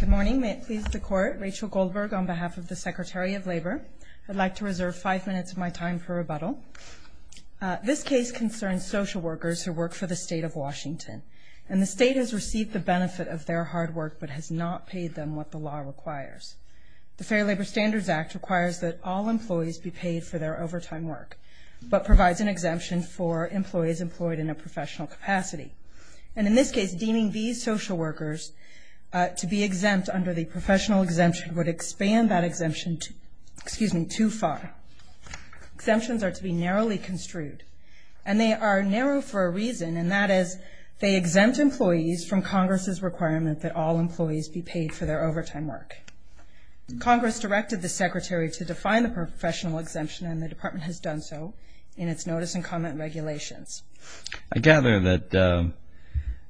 Good morning. May it please the Court, Rachel Goldberg on behalf of the Secretary of Labor. I'd like to reserve five minutes of my time for rebuttal. This case concerns social workers who work for the State of Washington, and the State has received the benefit of their hard work but has not paid them what the law requires. The Fair Labor Standards Act requires that all employees be paid for their overtime work, but provides an exemption for employees employed in a professional capacity. And in this case, deeming these social workers to be exempt under the professional exemption would expand that exemption too far. Exemptions are to be narrowly construed, and they are narrow for a reason, and that is they exempt employees from Congress's requirement that all employees be paid for their overtime work. Congress directed the Secretary to define the professional exemption, and the Department has done so in its notice and comment regulations. I gather that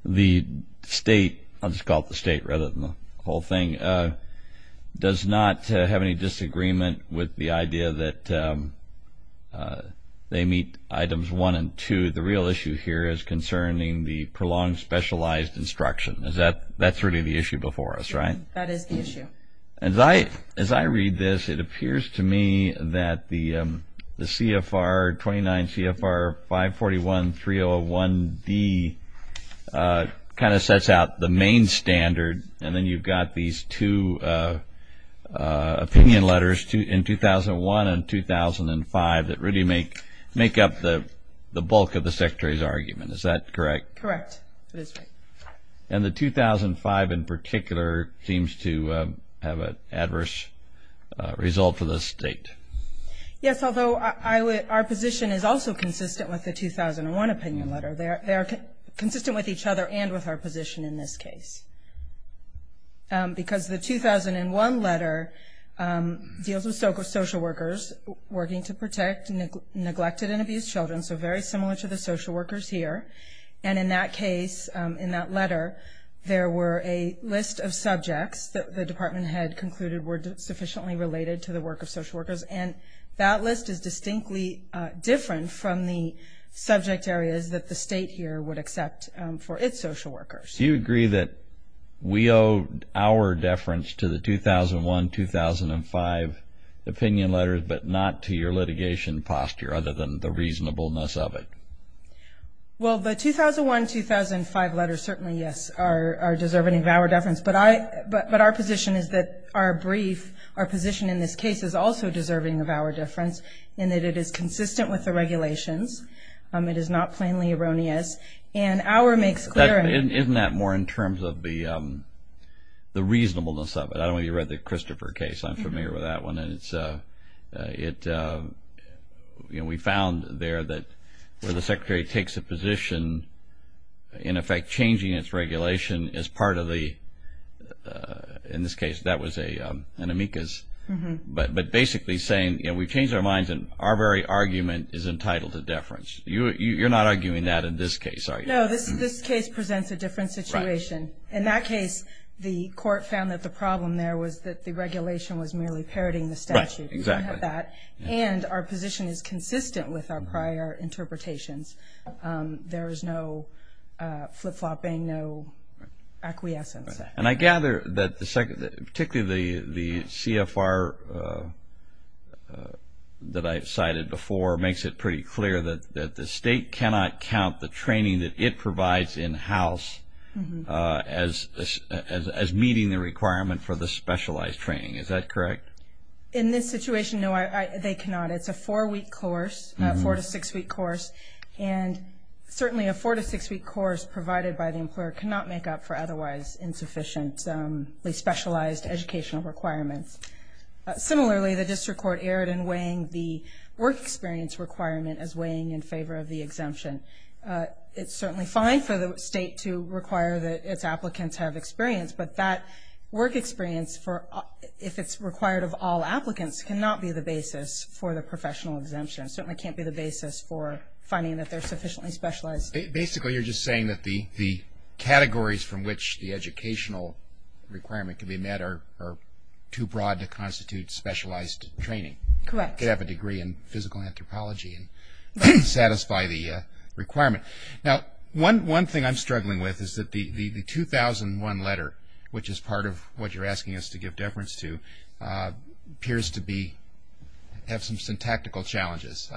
the State, I'll just call it the State rather than the whole thing, does not have any disagreement with the idea that they meet Items 1 and 2. The real issue here is concerning the prolonged specialized instruction. That's really the issue before us, right? That is the issue. As I read this, it appears to me that the CFR 29 CFR 541-301D kind of sets out the main standard, and then you've got these two opinion letters in 2001 and 2005 that really make up the bulk of the Secretary's argument. Is that correct? Correct. And the 2005 in particular seems to have an adverse result for the State. Yes, although our position is also consistent with the 2001 opinion letter. They are consistent with each other and with our position in this case because the 2001 letter deals with social workers working to protect neglected and abused children, so very similar to the social workers here. And in that case, in that letter, there were a list of subjects that the Department had concluded were sufficiently related to the work of social workers, and that list is distinctly different from the subject areas that the State here would accept for its social workers. Do you agree that we owe our deference to the 2001-2005 opinion letter, but not to your litigation posture other than the reasonableness of it? Well, the 2001-2005 letter certainly, yes, are deserving of our deference, but our position is that our brief, our position in this case, is also deserving of our deference in that it is consistent with the regulations. It is not plainly erroneous, and our makes clear Isn't that more in terms of the reasonableness of it? I know you read the Christopher case. I'm familiar with that one, and we found there that where the Secretary takes a position, in effect changing its regulation as part of the, in this case, that was an amicus, but basically saying we've changed our minds, and our very argument is entitled to deference. You're not arguing that in this case, are you? No, this case presents a different situation. In that case, the court found that the problem there was that the regulation was merely parroting the statute. Right, exactly. And our position is consistent with our prior interpretations. There is no flip-flopping, no acquiescence. And I gather that particularly the CFR that I cited before makes it pretty clear that the state cannot count the training that it provides in-house as meeting the requirement for the specialized training. Is that correct? In this situation, no, they cannot. It's a four-week course, a four- to six-week course, and certainly a four- to six-week course provided by the employer cannot make up for otherwise insufficiently specialized educational requirements. Similarly, the district court erred in weighing the work experience requirement as weighing in favor of the exemption. It's certainly fine for the state to require that its applicants have experience, but that work experience, if it's required of all applicants, cannot be the basis for the professional exemption. It certainly can't be the basis for finding that they're sufficiently specialized. Basically, you're just saying that the categories from which the educational requirement can be met are too broad to constitute specialized training. Correct. You could have a degree in physical anthropology and satisfy the requirement. Now, one thing I'm struggling with is that the 2001 letter, which is part of what you're asking us to give deference to, appears to have some syntactical challenges.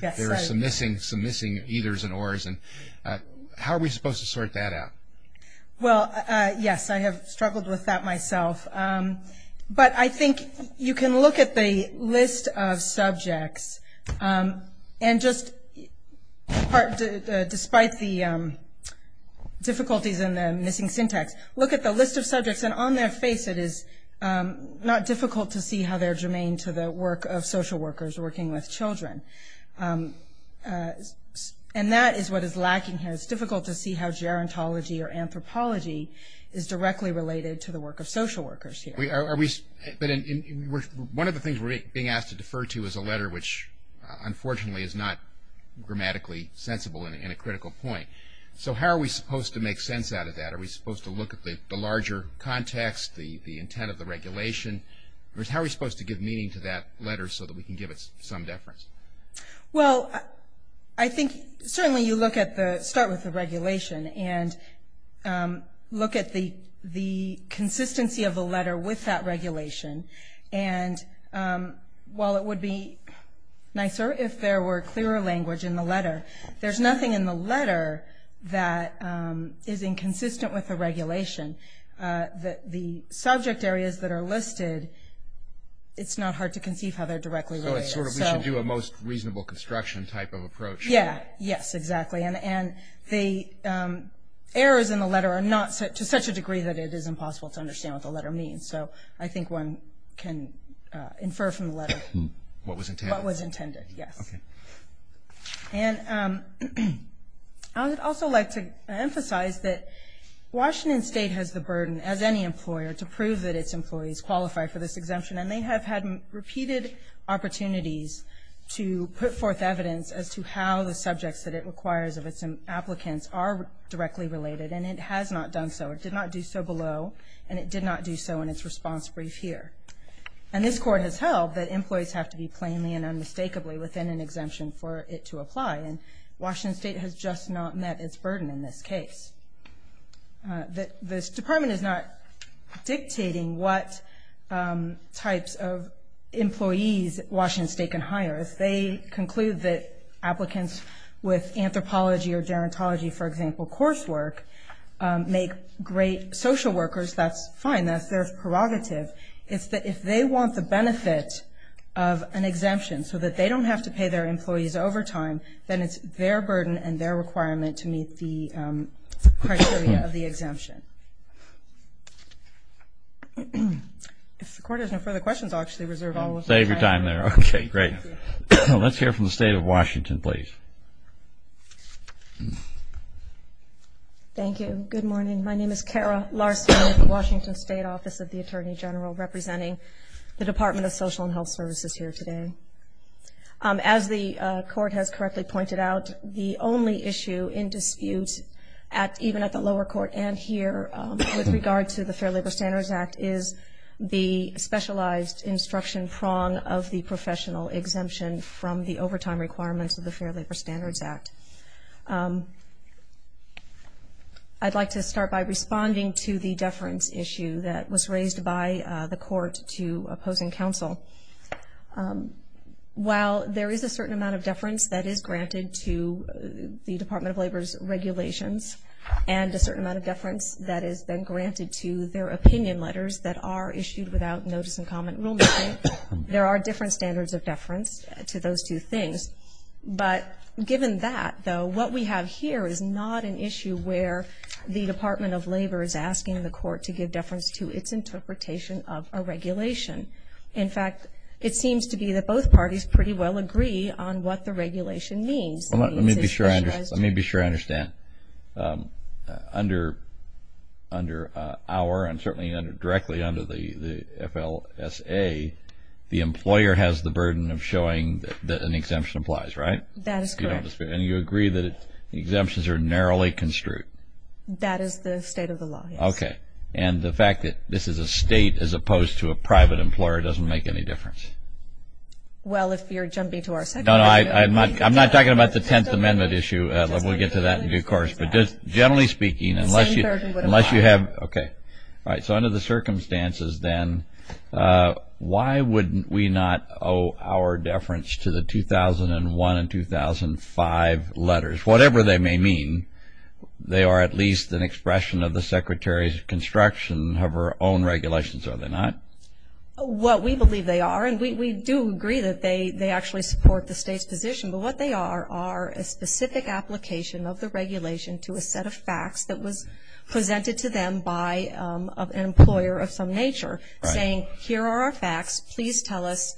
There are some missing eithers and ors. How are we supposed to sort that out? Well, yes, I have struggled with that myself. But I think you can look at the list of subjects and just despite the difficulties in the missing syntax, look at the list of subjects and on their face it is not difficult to see how they're germane to the work of social workers working with children. And that is what is lacking here. It's difficult to see how gerontology or anthropology is directly related to the work of social workers here. One of the things we're being asked to defer to is a letter which unfortunately is not grammatically sensible and a critical point. So how are we supposed to make sense out of that? Are we supposed to look at the larger context, the intent of the regulation? How are we supposed to give meaning to that letter so that we can give it some deference? Well, I think certainly you start with the regulation and look at the consistency of the letter with that regulation. And while it would be nicer if there were clearer language in the letter, there's nothing in the letter that is inconsistent with the regulation. The subject areas that are listed, it's not hard to conceive how they're directly related. It's sort of we should do a most reasonable construction type of approach. Yes, exactly. And the errors in the letter are not to such a degree that it is impossible to understand what the letter means. So I think one can infer from the letter what was intended. And I would also like to emphasize that Washington State has the burden, as any employer, to prove that its employees qualify for this exemption. And they have had repeated opportunities to put forth evidence as to how the subjects that it requires of its applicants are directly related, and it has not done so. It did not do so below, and it did not do so in its response brief here. And this Court has held that employees have to be plainly and unmistakably within an exemption for it to apply, and Washington State has just not met its burden in this case. This department is not dictating what types of employees Washington State can hire. If they conclude that applicants with anthropology or gerontology, for example, coursework, make great social workers, that's fine. That's their prerogative. It's that if they want the benefit of an exemption so that they don't have to pay their employees overtime, then it's their burden and their requirement to meet the criteria of the exemption. If the Court has no further questions, I'll actually reserve all of the time. Save your time there. Okay, great. Let's hear from the State of Washington, please. Thank you. Good morning. My name is Kara Larson with the Washington State Office of the Attorney General, representing the Department of Social and Health Services here today. As the Court has correctly pointed out, the only issue in dispute, even at the lower court and here with regard to the Fair Labor Standards Act, is the specialized instruction prong of the professional exemption from the overtime requirements of the Fair Labor Standards Act. I'd like to start by responding to the deference issue that was raised by the Court to opposing counsel. While there is a certain amount of deference that is granted to the Department of Labor's regulations and a certain amount of deference that has been granted to their opinion letters that are issued without notice and comment rulemaking, there are different standards of deference to those two things. But given that, though, what we have here is not an issue where the Department of Labor is asking the Court to give deference to its interpretation of a regulation. In fact, it seems to be that both parties pretty well agree on what the regulation means. Let me be sure I understand. Under our, and certainly directly under the FLSA, the employer has the burden of showing that an exemption applies, right? That is correct. And you agree that exemptions are narrowly construed? That is the state of the law, yes. Okay. And the fact that this is a state as opposed to a private employer doesn't make any difference? Well, if you're jumping to our second argument. No, no. I'm not talking about the Tenth Amendment issue. We'll get to that in due course. But just generally speaking, unless you have, okay. All right, so under the circumstances, then, why wouldn't we not owe our deference to the 2001 and 2005 letters? Whatever they may mean, they are at least an expression of the Secretary's construction of her own regulations, are they not? What we believe they are, and we do agree that they actually support the state's position, but what they are are a specific application of the regulation to a set of facts that was presented to them by an employer of some nature saying, here are our facts, please tell us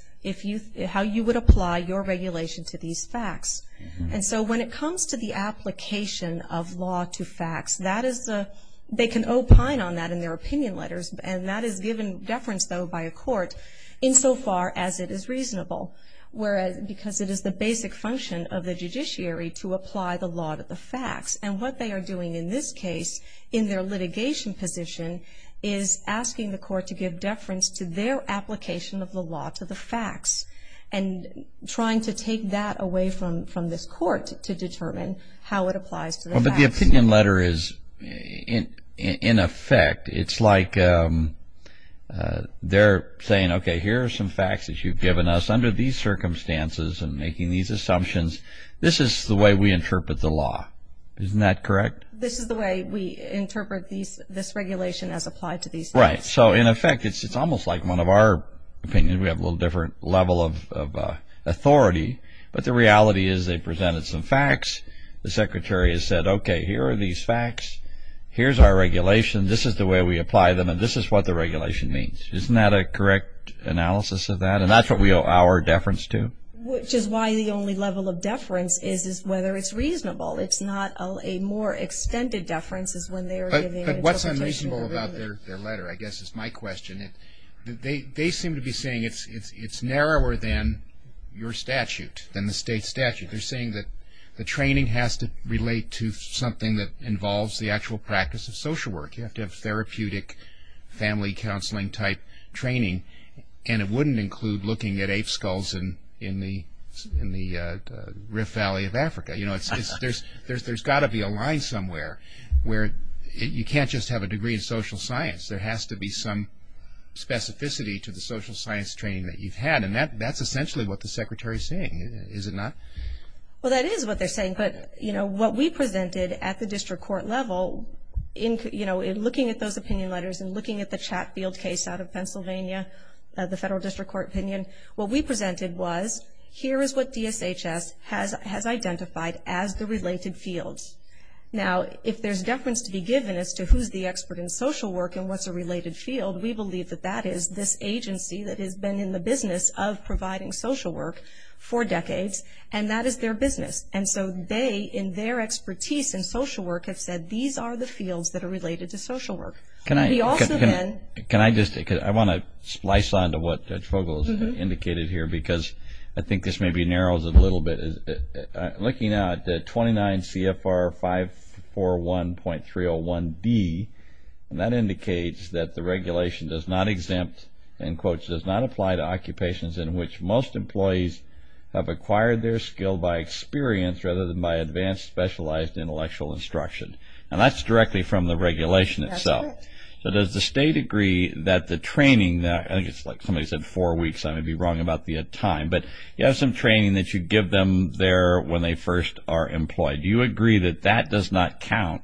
how you would apply your regulation to these facts. And so when it comes to the application of law to facts, they can opine on that in their opinion letters, and that is given deference, though, by a court insofar as it is reasonable, because it is the basic function of the judiciary to apply the law to the facts. And what they are doing in this case, in their litigation position, is asking the court to give deference to their application of the law to the facts and trying to take that away from this court to determine how it applies to the facts. Well, but the opinion letter is, in effect, it's like they're saying, okay, here are some facts that you've given us. Under these circumstances and making these assumptions, this is the way we interpret the law. Isn't that correct? This is the way we interpret this regulation as applied to these facts. Right. So, in effect, it's almost like one of our opinions. We have a little different level of authority, but the reality is they presented some facts. The secretary has said, okay, here are these facts. Here's our regulation. This is the way we apply them, and this is what the regulation means. Isn't that a correct analysis of that? And that's what we owe our deference to. Which is why the only level of deference is whether it's reasonable. It's not a more extended deference is when they are giving interpretation. But what's unreasonable about their letter, I guess, is my question. They seem to be saying it's narrower than your statute, than the state statute. They're saying that the training has to relate to something that involves the actual practice of social work. You have to have therapeutic family counseling type training, and it wouldn't include looking at ape skulls in the Rift Valley of Africa. You know, there's got to be a line somewhere where you can't just have a degree in social science. There has to be some specificity to the social science training that you've had, and that's essentially what the secretary is saying, is it not? Well, that is what they're saying, but, you know, what we presented at the district court level, you know, looking at those opinion letters and looking at the Chatfield case out of Pennsylvania, the federal district court opinion, what we presented was, here is what DSHS has identified as the related fields. Now, if there's deference to be given as to who's the expert in social work and what's a related field, we believe that that is this agency that has been in the business of providing social work for decades, and that is their business. And so they, in their expertise in social work, have said these are the fields that are related to social work. Can I just, I want to splice on to what Judge Vogel has indicated here because I think this maybe narrows it a little bit. Looking at 29 CFR 541.301D, that indicates that the regulation does not exempt, in quotes, does not apply to occupations in which most employees have acquired their skill by experience rather than by advanced specialized intellectual instruction. And that's directly from the regulation itself. So does the state agree that the training, I think it's like somebody said four weeks, I may be wrong about the time, but you have some training that you give them there when they first are employed. Do you agree that that does not count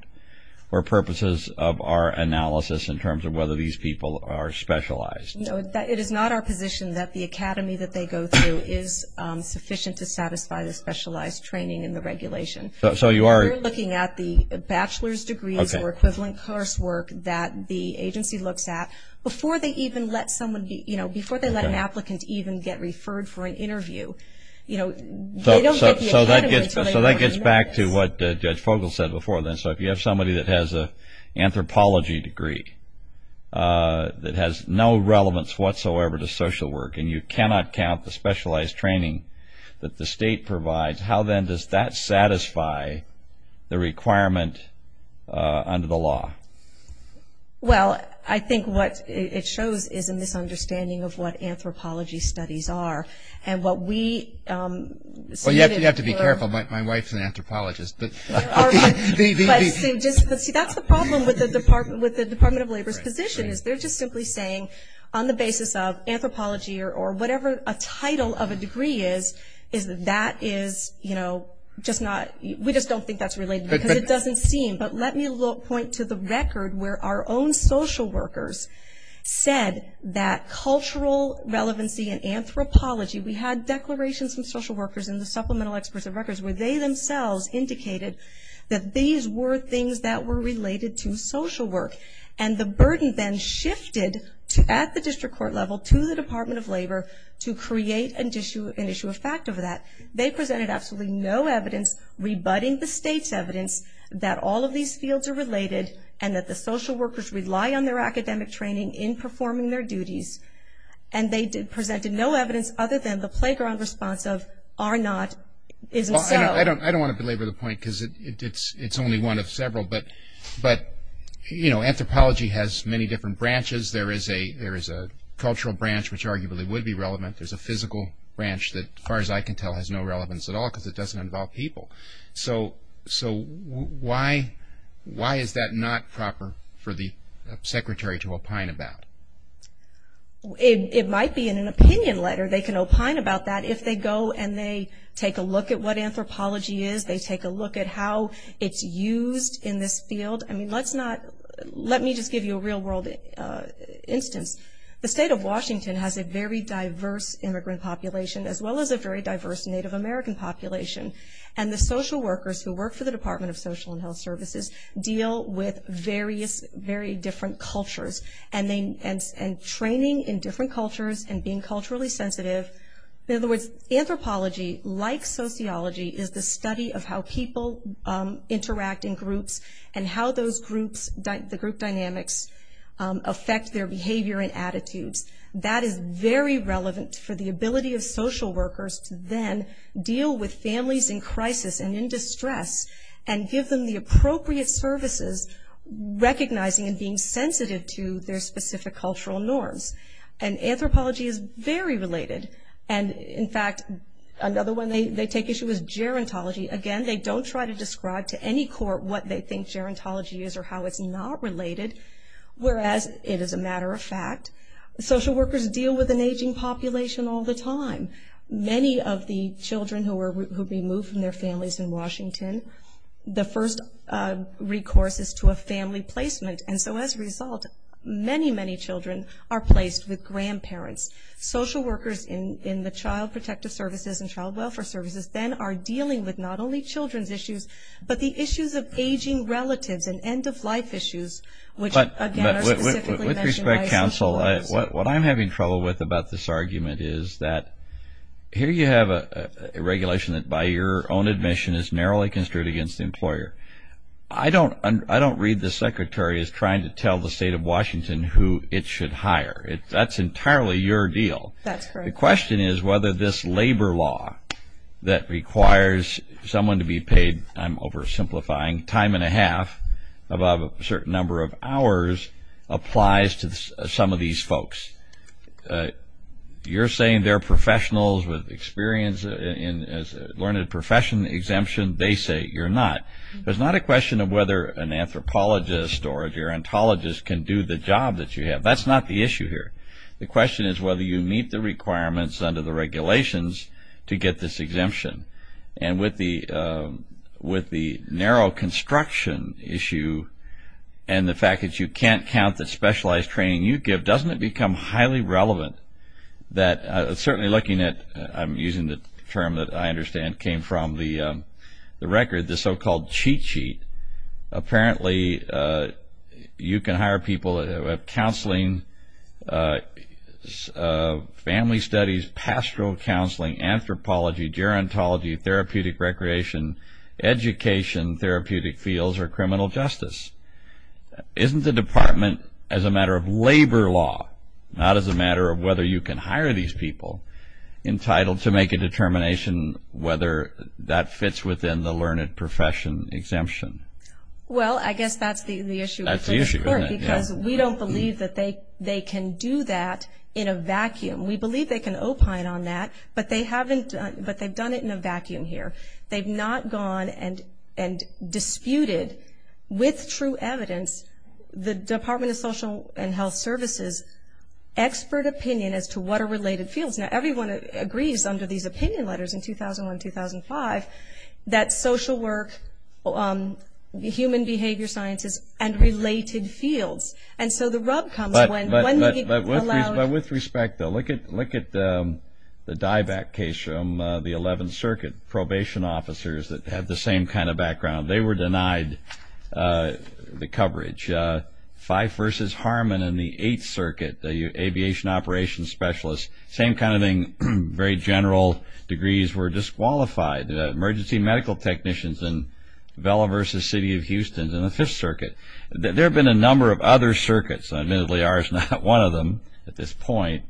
for purposes of our analysis in terms of whether these people are specialized? No, it is not our position that the academy that they go through is sufficient to satisfy the specialized training in the regulation. So you are looking at the bachelor's degrees or equivalent coursework that the agency looks at before they even let someone be, you know, before they let an applicant even get referred for an interview. You know, they don't get the academy until they've learned this. So that gets back to what Judge Vogel said before then. So if you have somebody that has an anthropology degree that has no relevance whatsoever to social work and you cannot count the specialized training that the state provides, how then does that satisfy the requirement under the law? Well, I think what it shows is a misunderstanding of what anthropology studies are. And what we see in particular. Well, you have to be careful. My wife is an anthropologist. But see, that's the problem with the Department of Labor's position is they're just simply saying on the basis of anthropology or whatever a title of a degree is, that is, you know, just not, we just don't think that's related because it doesn't seem. But let me point to the record where our own social workers said that cultural relevancy in anthropology, we had declarations from social workers and the supplemental experts of records where they themselves indicated that these were things that were related to social work. And the burden then shifted at the district court level to the Department of Labor to create an issue of fact over that. They presented absolutely no evidence rebutting the state's evidence that all of these fields are related and that the social workers rely on their academic training in performing their duties. And they presented no evidence other than the playground response of are not, isn't so. I don't want to belabor the point because it's only one of several. But, you know, anthropology has many different branches. There is a cultural branch which arguably would be relevant. There's a physical branch that as far as I can tell has no relevance at all because it doesn't involve people. So why is that not proper for the secretary to opine about? It might be in an opinion letter they can opine about that. If they go and they take a look at what anthropology is, they take a look at how it's used in this field. I mean, let me just give you a real-world instance. The state of Washington has a very diverse immigrant population as well as a very diverse Native American population. And the social workers who work for the Department of Social and Health Services deal with various very different cultures and training in different cultures and being culturally sensitive. In other words, anthropology, like sociology, is the study of how people interact in groups and how those groups, the group dynamics, affect their behavior and attitudes. That is very relevant for the ability of social workers to then deal with families in crisis and in distress and give them the appropriate services, recognizing and being sensitive to their specific cultural norms. And anthropology is very related. And, in fact, another one they take issue with is gerontology. Again, they don't try to describe to any court what they think gerontology is or how it's not related, whereas it is a matter of fact. Social workers deal with an aging population all the time. Many of the children who are removed from their families in Washington, the first recourse is to a family placement. And so, as a result, many, many children are placed with grandparents. Social workers in the Child Protective Services and Child Welfare Services then are dealing with not only children's issues, but the issues of aging relatives and end-of-life issues, which, again, are specifically mentioned by social workers. With respect, counsel, what I'm having trouble with about this argument is that here you have a regulation that, by your own admission, is narrowly construed against the employer. I don't read the secretary as trying to tell the state of Washington who it should hire. That's entirely your deal. That's correct. The question is whether this labor law that requires someone to be paid, I'm oversimplifying, time and a half above a certain number of hours applies to some of these folks. You're saying they're professionals with experience learning a profession exemption, they say you're not. It's not a question of whether an anthropologist or a gerontologist can do the job that you have. That's not the issue here. The question is whether you meet the requirements under the regulations to get this exemption. And with the narrow construction issue and the fact that you can't count the specialized training you give, doesn't it become highly relevant that, certainly looking at, I'm using the term that I understand came from the record, the so-called cheat sheet, apparently you can hire people who have counseling, family studies, pastoral counseling, anthropology, gerontology, therapeutic recreation, education, therapeutic fields, or criminal justice. Isn't the department, as a matter of labor law, not as a matter of whether you can hire these people entitled to make a determination whether that fits within the learned profession exemption? Well, I guess that's the issue. That's the issue, isn't it? Because we don't believe that they can do that in a vacuum. We believe they can opine on that, but they've done it in a vacuum here. They've not gone and disputed with true evidence the Department of Social and Health Services expert opinion as to what are related fields. Now, everyone agrees under these opinion letters in 2001-2005 that social work, human behavior sciences, and related fields. And so the rub comes when they allow. But with respect, though, look at the dieback case from the 11th Circuit, probation officers that have the same kind of background. They were denied the coverage. Fife v. Harmon in the 8th Circuit, the aviation operations specialist, same kind of thing, very general degrees, were disqualified. Emergency medical technicians in Vela v. City of Houston in the 5th Circuit. There have been a number of other circuits, and admittedly, ours is not one of them at this point,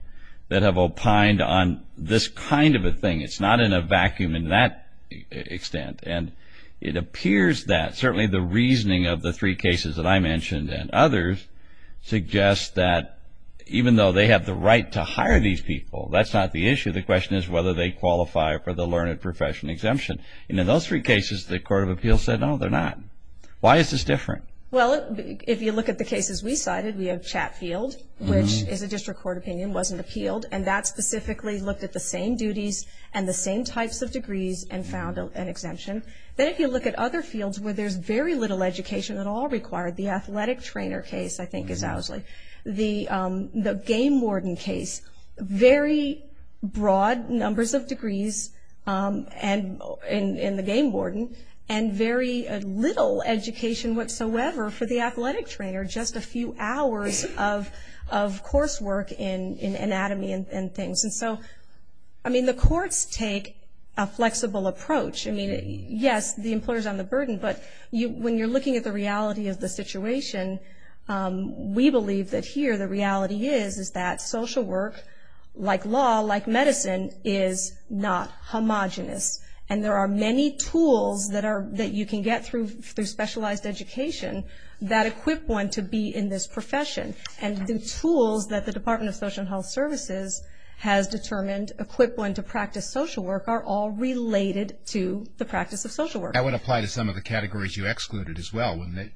that have opined on this kind of a thing. It's not in a vacuum in that extent. And it appears that certainly the reasoning of the three cases that I mentioned and others suggest that even though they have the right to hire these people, that's not the issue. The question is whether they qualify for the learned professional exemption. And in those three cases, the Court of Appeals said, no, they're not. Why is this different? Well, if you look at the cases we cited, we have Chatfield, which is a district court opinion, wasn't appealed. And that specifically looked at the same duties and the same types of degrees and found an exemption. Then if you look at other fields where there's very little education at all required, the athletic trainer case, I think, is Ousley. The game warden case, very broad numbers of degrees in the game warden and very little education whatsoever for the athletic trainer, just a few hours of coursework in anatomy and things. I mean, the courts take a flexible approach. I mean, yes, the employer's on the burden, but when you're looking at the reality of the situation, we believe that here the reality is that social work, like law, like medicine, is not homogenous. And there are many tools that you can get through specialized education that equip one to be in this profession. And the tools that the Department of Social and Health Services has determined equip one to practice social work are all related to the practice of social work. That would apply to some of the categories you excluded as well, wouldn't it?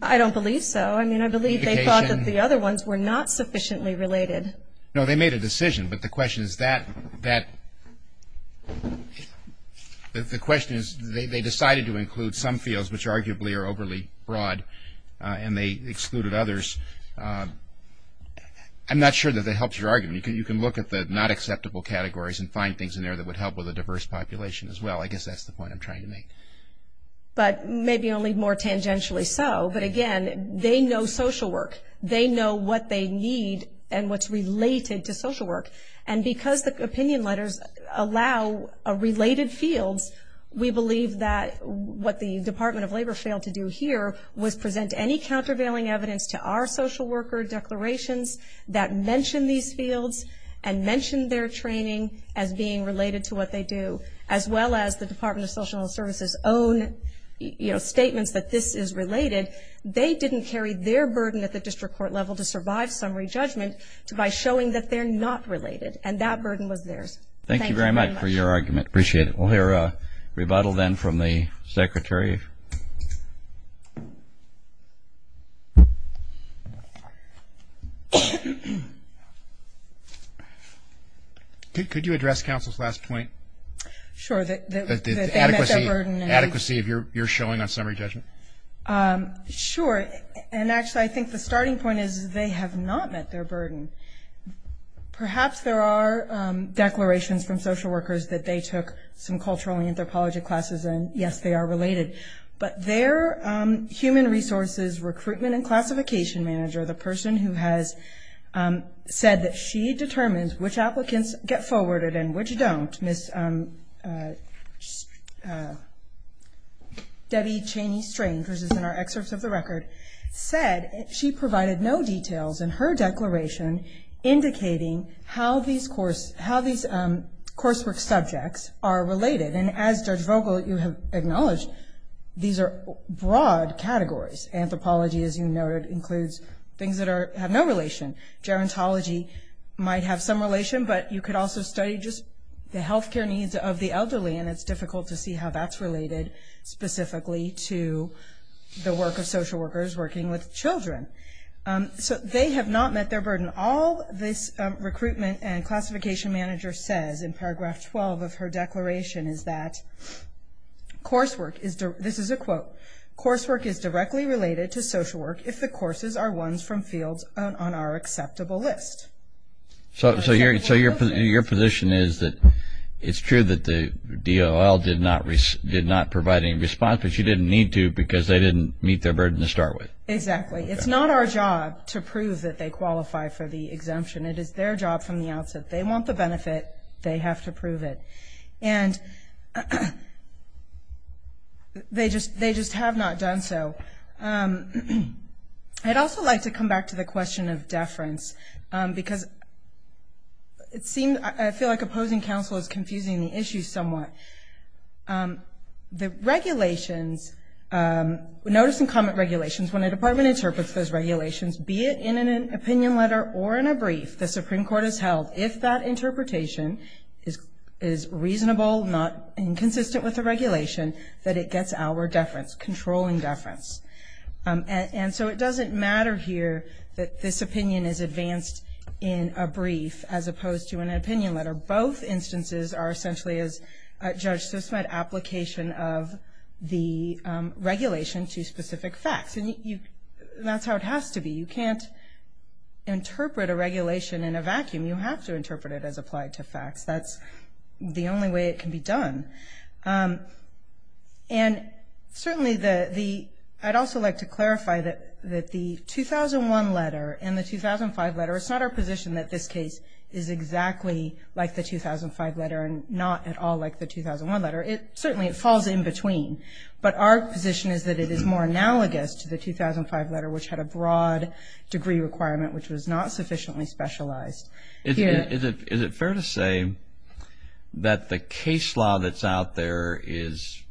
I don't believe so. I mean, I believe they thought that the other ones were not sufficiently related. No, they made a decision, but the question is that they decided to include some fields, which arguably are overly broad, and they excluded others. I'm not sure that that helps your argument. You can look at the not acceptable categories and find things in there that would help with a diverse population as well. I guess that's the point I'm trying to make. But maybe only more tangentially so. But, again, they know social work. They know what they need and what's related to social work. And because the opinion letters allow related fields, we believe that what the Department of Labor failed to do here was present any countervailing evidence to our social worker declarations that mention these fields and mention their training as being related to what they do, as well as the Department of Social and Health Services' own statements that this is related. They didn't carry their burden at the district court level to survive summary judgment by showing that they're not related, and that burden was theirs. Thank you very much. Thank you very much for your argument. Appreciate it. We'll hear a rebuttal then from the secretary. Could you address counsel's last point? Sure. That they met their burden. The adequacy of your showing on summary judgment. Sure. And, actually, I think the starting point is they have not met their burden. Perhaps there are declarations from social workers that they took some cultural and anthropology classes, and, yes, they are related. But their human resources recruitment and classification manager, the person who has said that she determines which applicants get forwarded and which don't, Ms. Debbie Cheney Strange, who is in our excerpts of the record, said she provided no details in her declaration indicating how these coursework subjects are related. And, as Judge Vogel, you have acknowledged, these are broad categories. Anthropology, as you noted, includes things that have no relation. Gerontology might have some relation, but you could also study just the health care needs of the elderly, and it's difficult to see how that's related specifically to the work of social workers working with children. So they have not met their burden. All this recruitment and classification manager says in paragraph 12 of her declaration is that coursework is, this is a quote, coursework is directly related to social work if the courses are ones from fields on our acceptable list. So your position is that it's true that the DOL did not provide any response, but she didn't need to because they didn't meet their burden to start with. Exactly. It's not our job to prove that they qualify for the exemption. It is their job from the outset. They want the benefit. They have to prove it. And they just have not done so. I'd also like to come back to the question of deference because it seems, I feel like opposing counsel is confusing the issue somewhat. The regulations, notice and comment regulations, when a department interprets those regulations, be it in an opinion letter or in a brief, the Supreme Court has held, if that interpretation is reasonable, not inconsistent with the regulation, that it gets outward deference, controlling deference. And so it doesn't matter here that this opinion is advanced in a brief as opposed to an opinion letter. Both instances are essentially, as Judge Sussman said, application of the regulation to specific facts. And that's how it has to be. You can't interpret a regulation in a vacuum. You have to interpret it as applied to facts. That's the only way it can be done. And certainly I'd also like to clarify that the 2001 letter and the 2005 letter, it's not our position that this case is exactly like the 2005 letter and not at all like the 2001 letter. Certainly it falls in between. But our position is that it is more analogous to the 2005 letter, which had a broad degree requirement, which was not sufficiently specialized. Is it fair to say that the case law that's out there is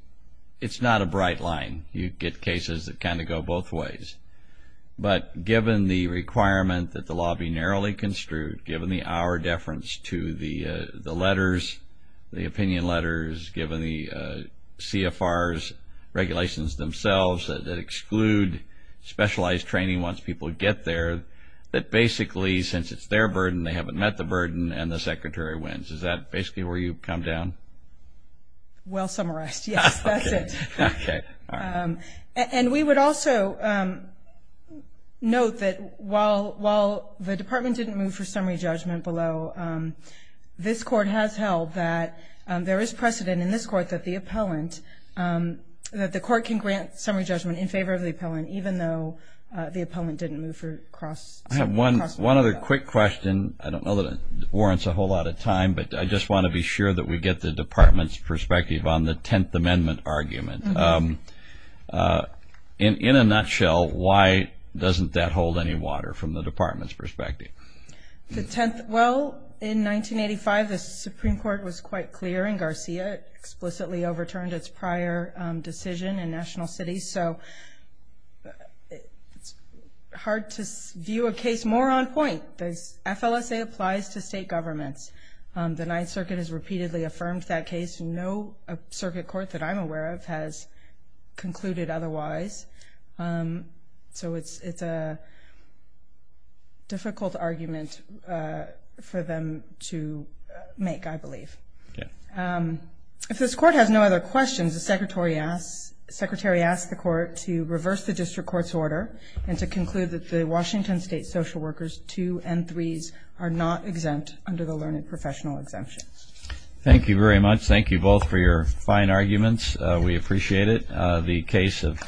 not a bright line? You get cases that kind of go both ways. But given the requirement that the law be narrowly construed, given the hour deference to the letters, the opinion letters, given the CFR's regulations themselves that exclude specialized training once people get there, that basically since it's their burden, they haven't met the burden and the Secretary wins. Is that basically where you come down? Well summarized, yes. That's it. Okay. And we would also note that while the Department didn't move for summary judgment below, this Court has held that there is precedent in this Court that the appellant, that the Court can grant summary judgment in favor of the appellant, even though the appellant didn't move for cross-summary judgment. I have one other quick question. I don't know that it warrants a whole lot of time, but I just want to be sure that we get the Department's perspective on the Tenth Amendment argument. In a nutshell, why doesn't that hold any water from the Department's perspective? Well, in 1985, the Supreme Court was quite clear, and Garcia explicitly overturned its prior decision in national cities. So it's hard to view a case more on point. FLSA applies to state governments. The Ninth Circuit has repeatedly affirmed that case. No circuit court that I'm aware of has concluded otherwise. So it's a difficult argument for them to make, I believe. If this Court has no other questions, the Secretary asks the Court to reverse the District Court's order and to conclude that the Washington State social workers 2 and 3s are not exempt under the learned professional exemption. Thank you very much. Thank you both for your fine arguments. We appreciate it. The case of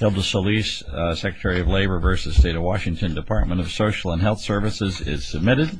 Hilda Solis, Secretary of Labor v. State of Washington, Department of Social and Health Services is submitted.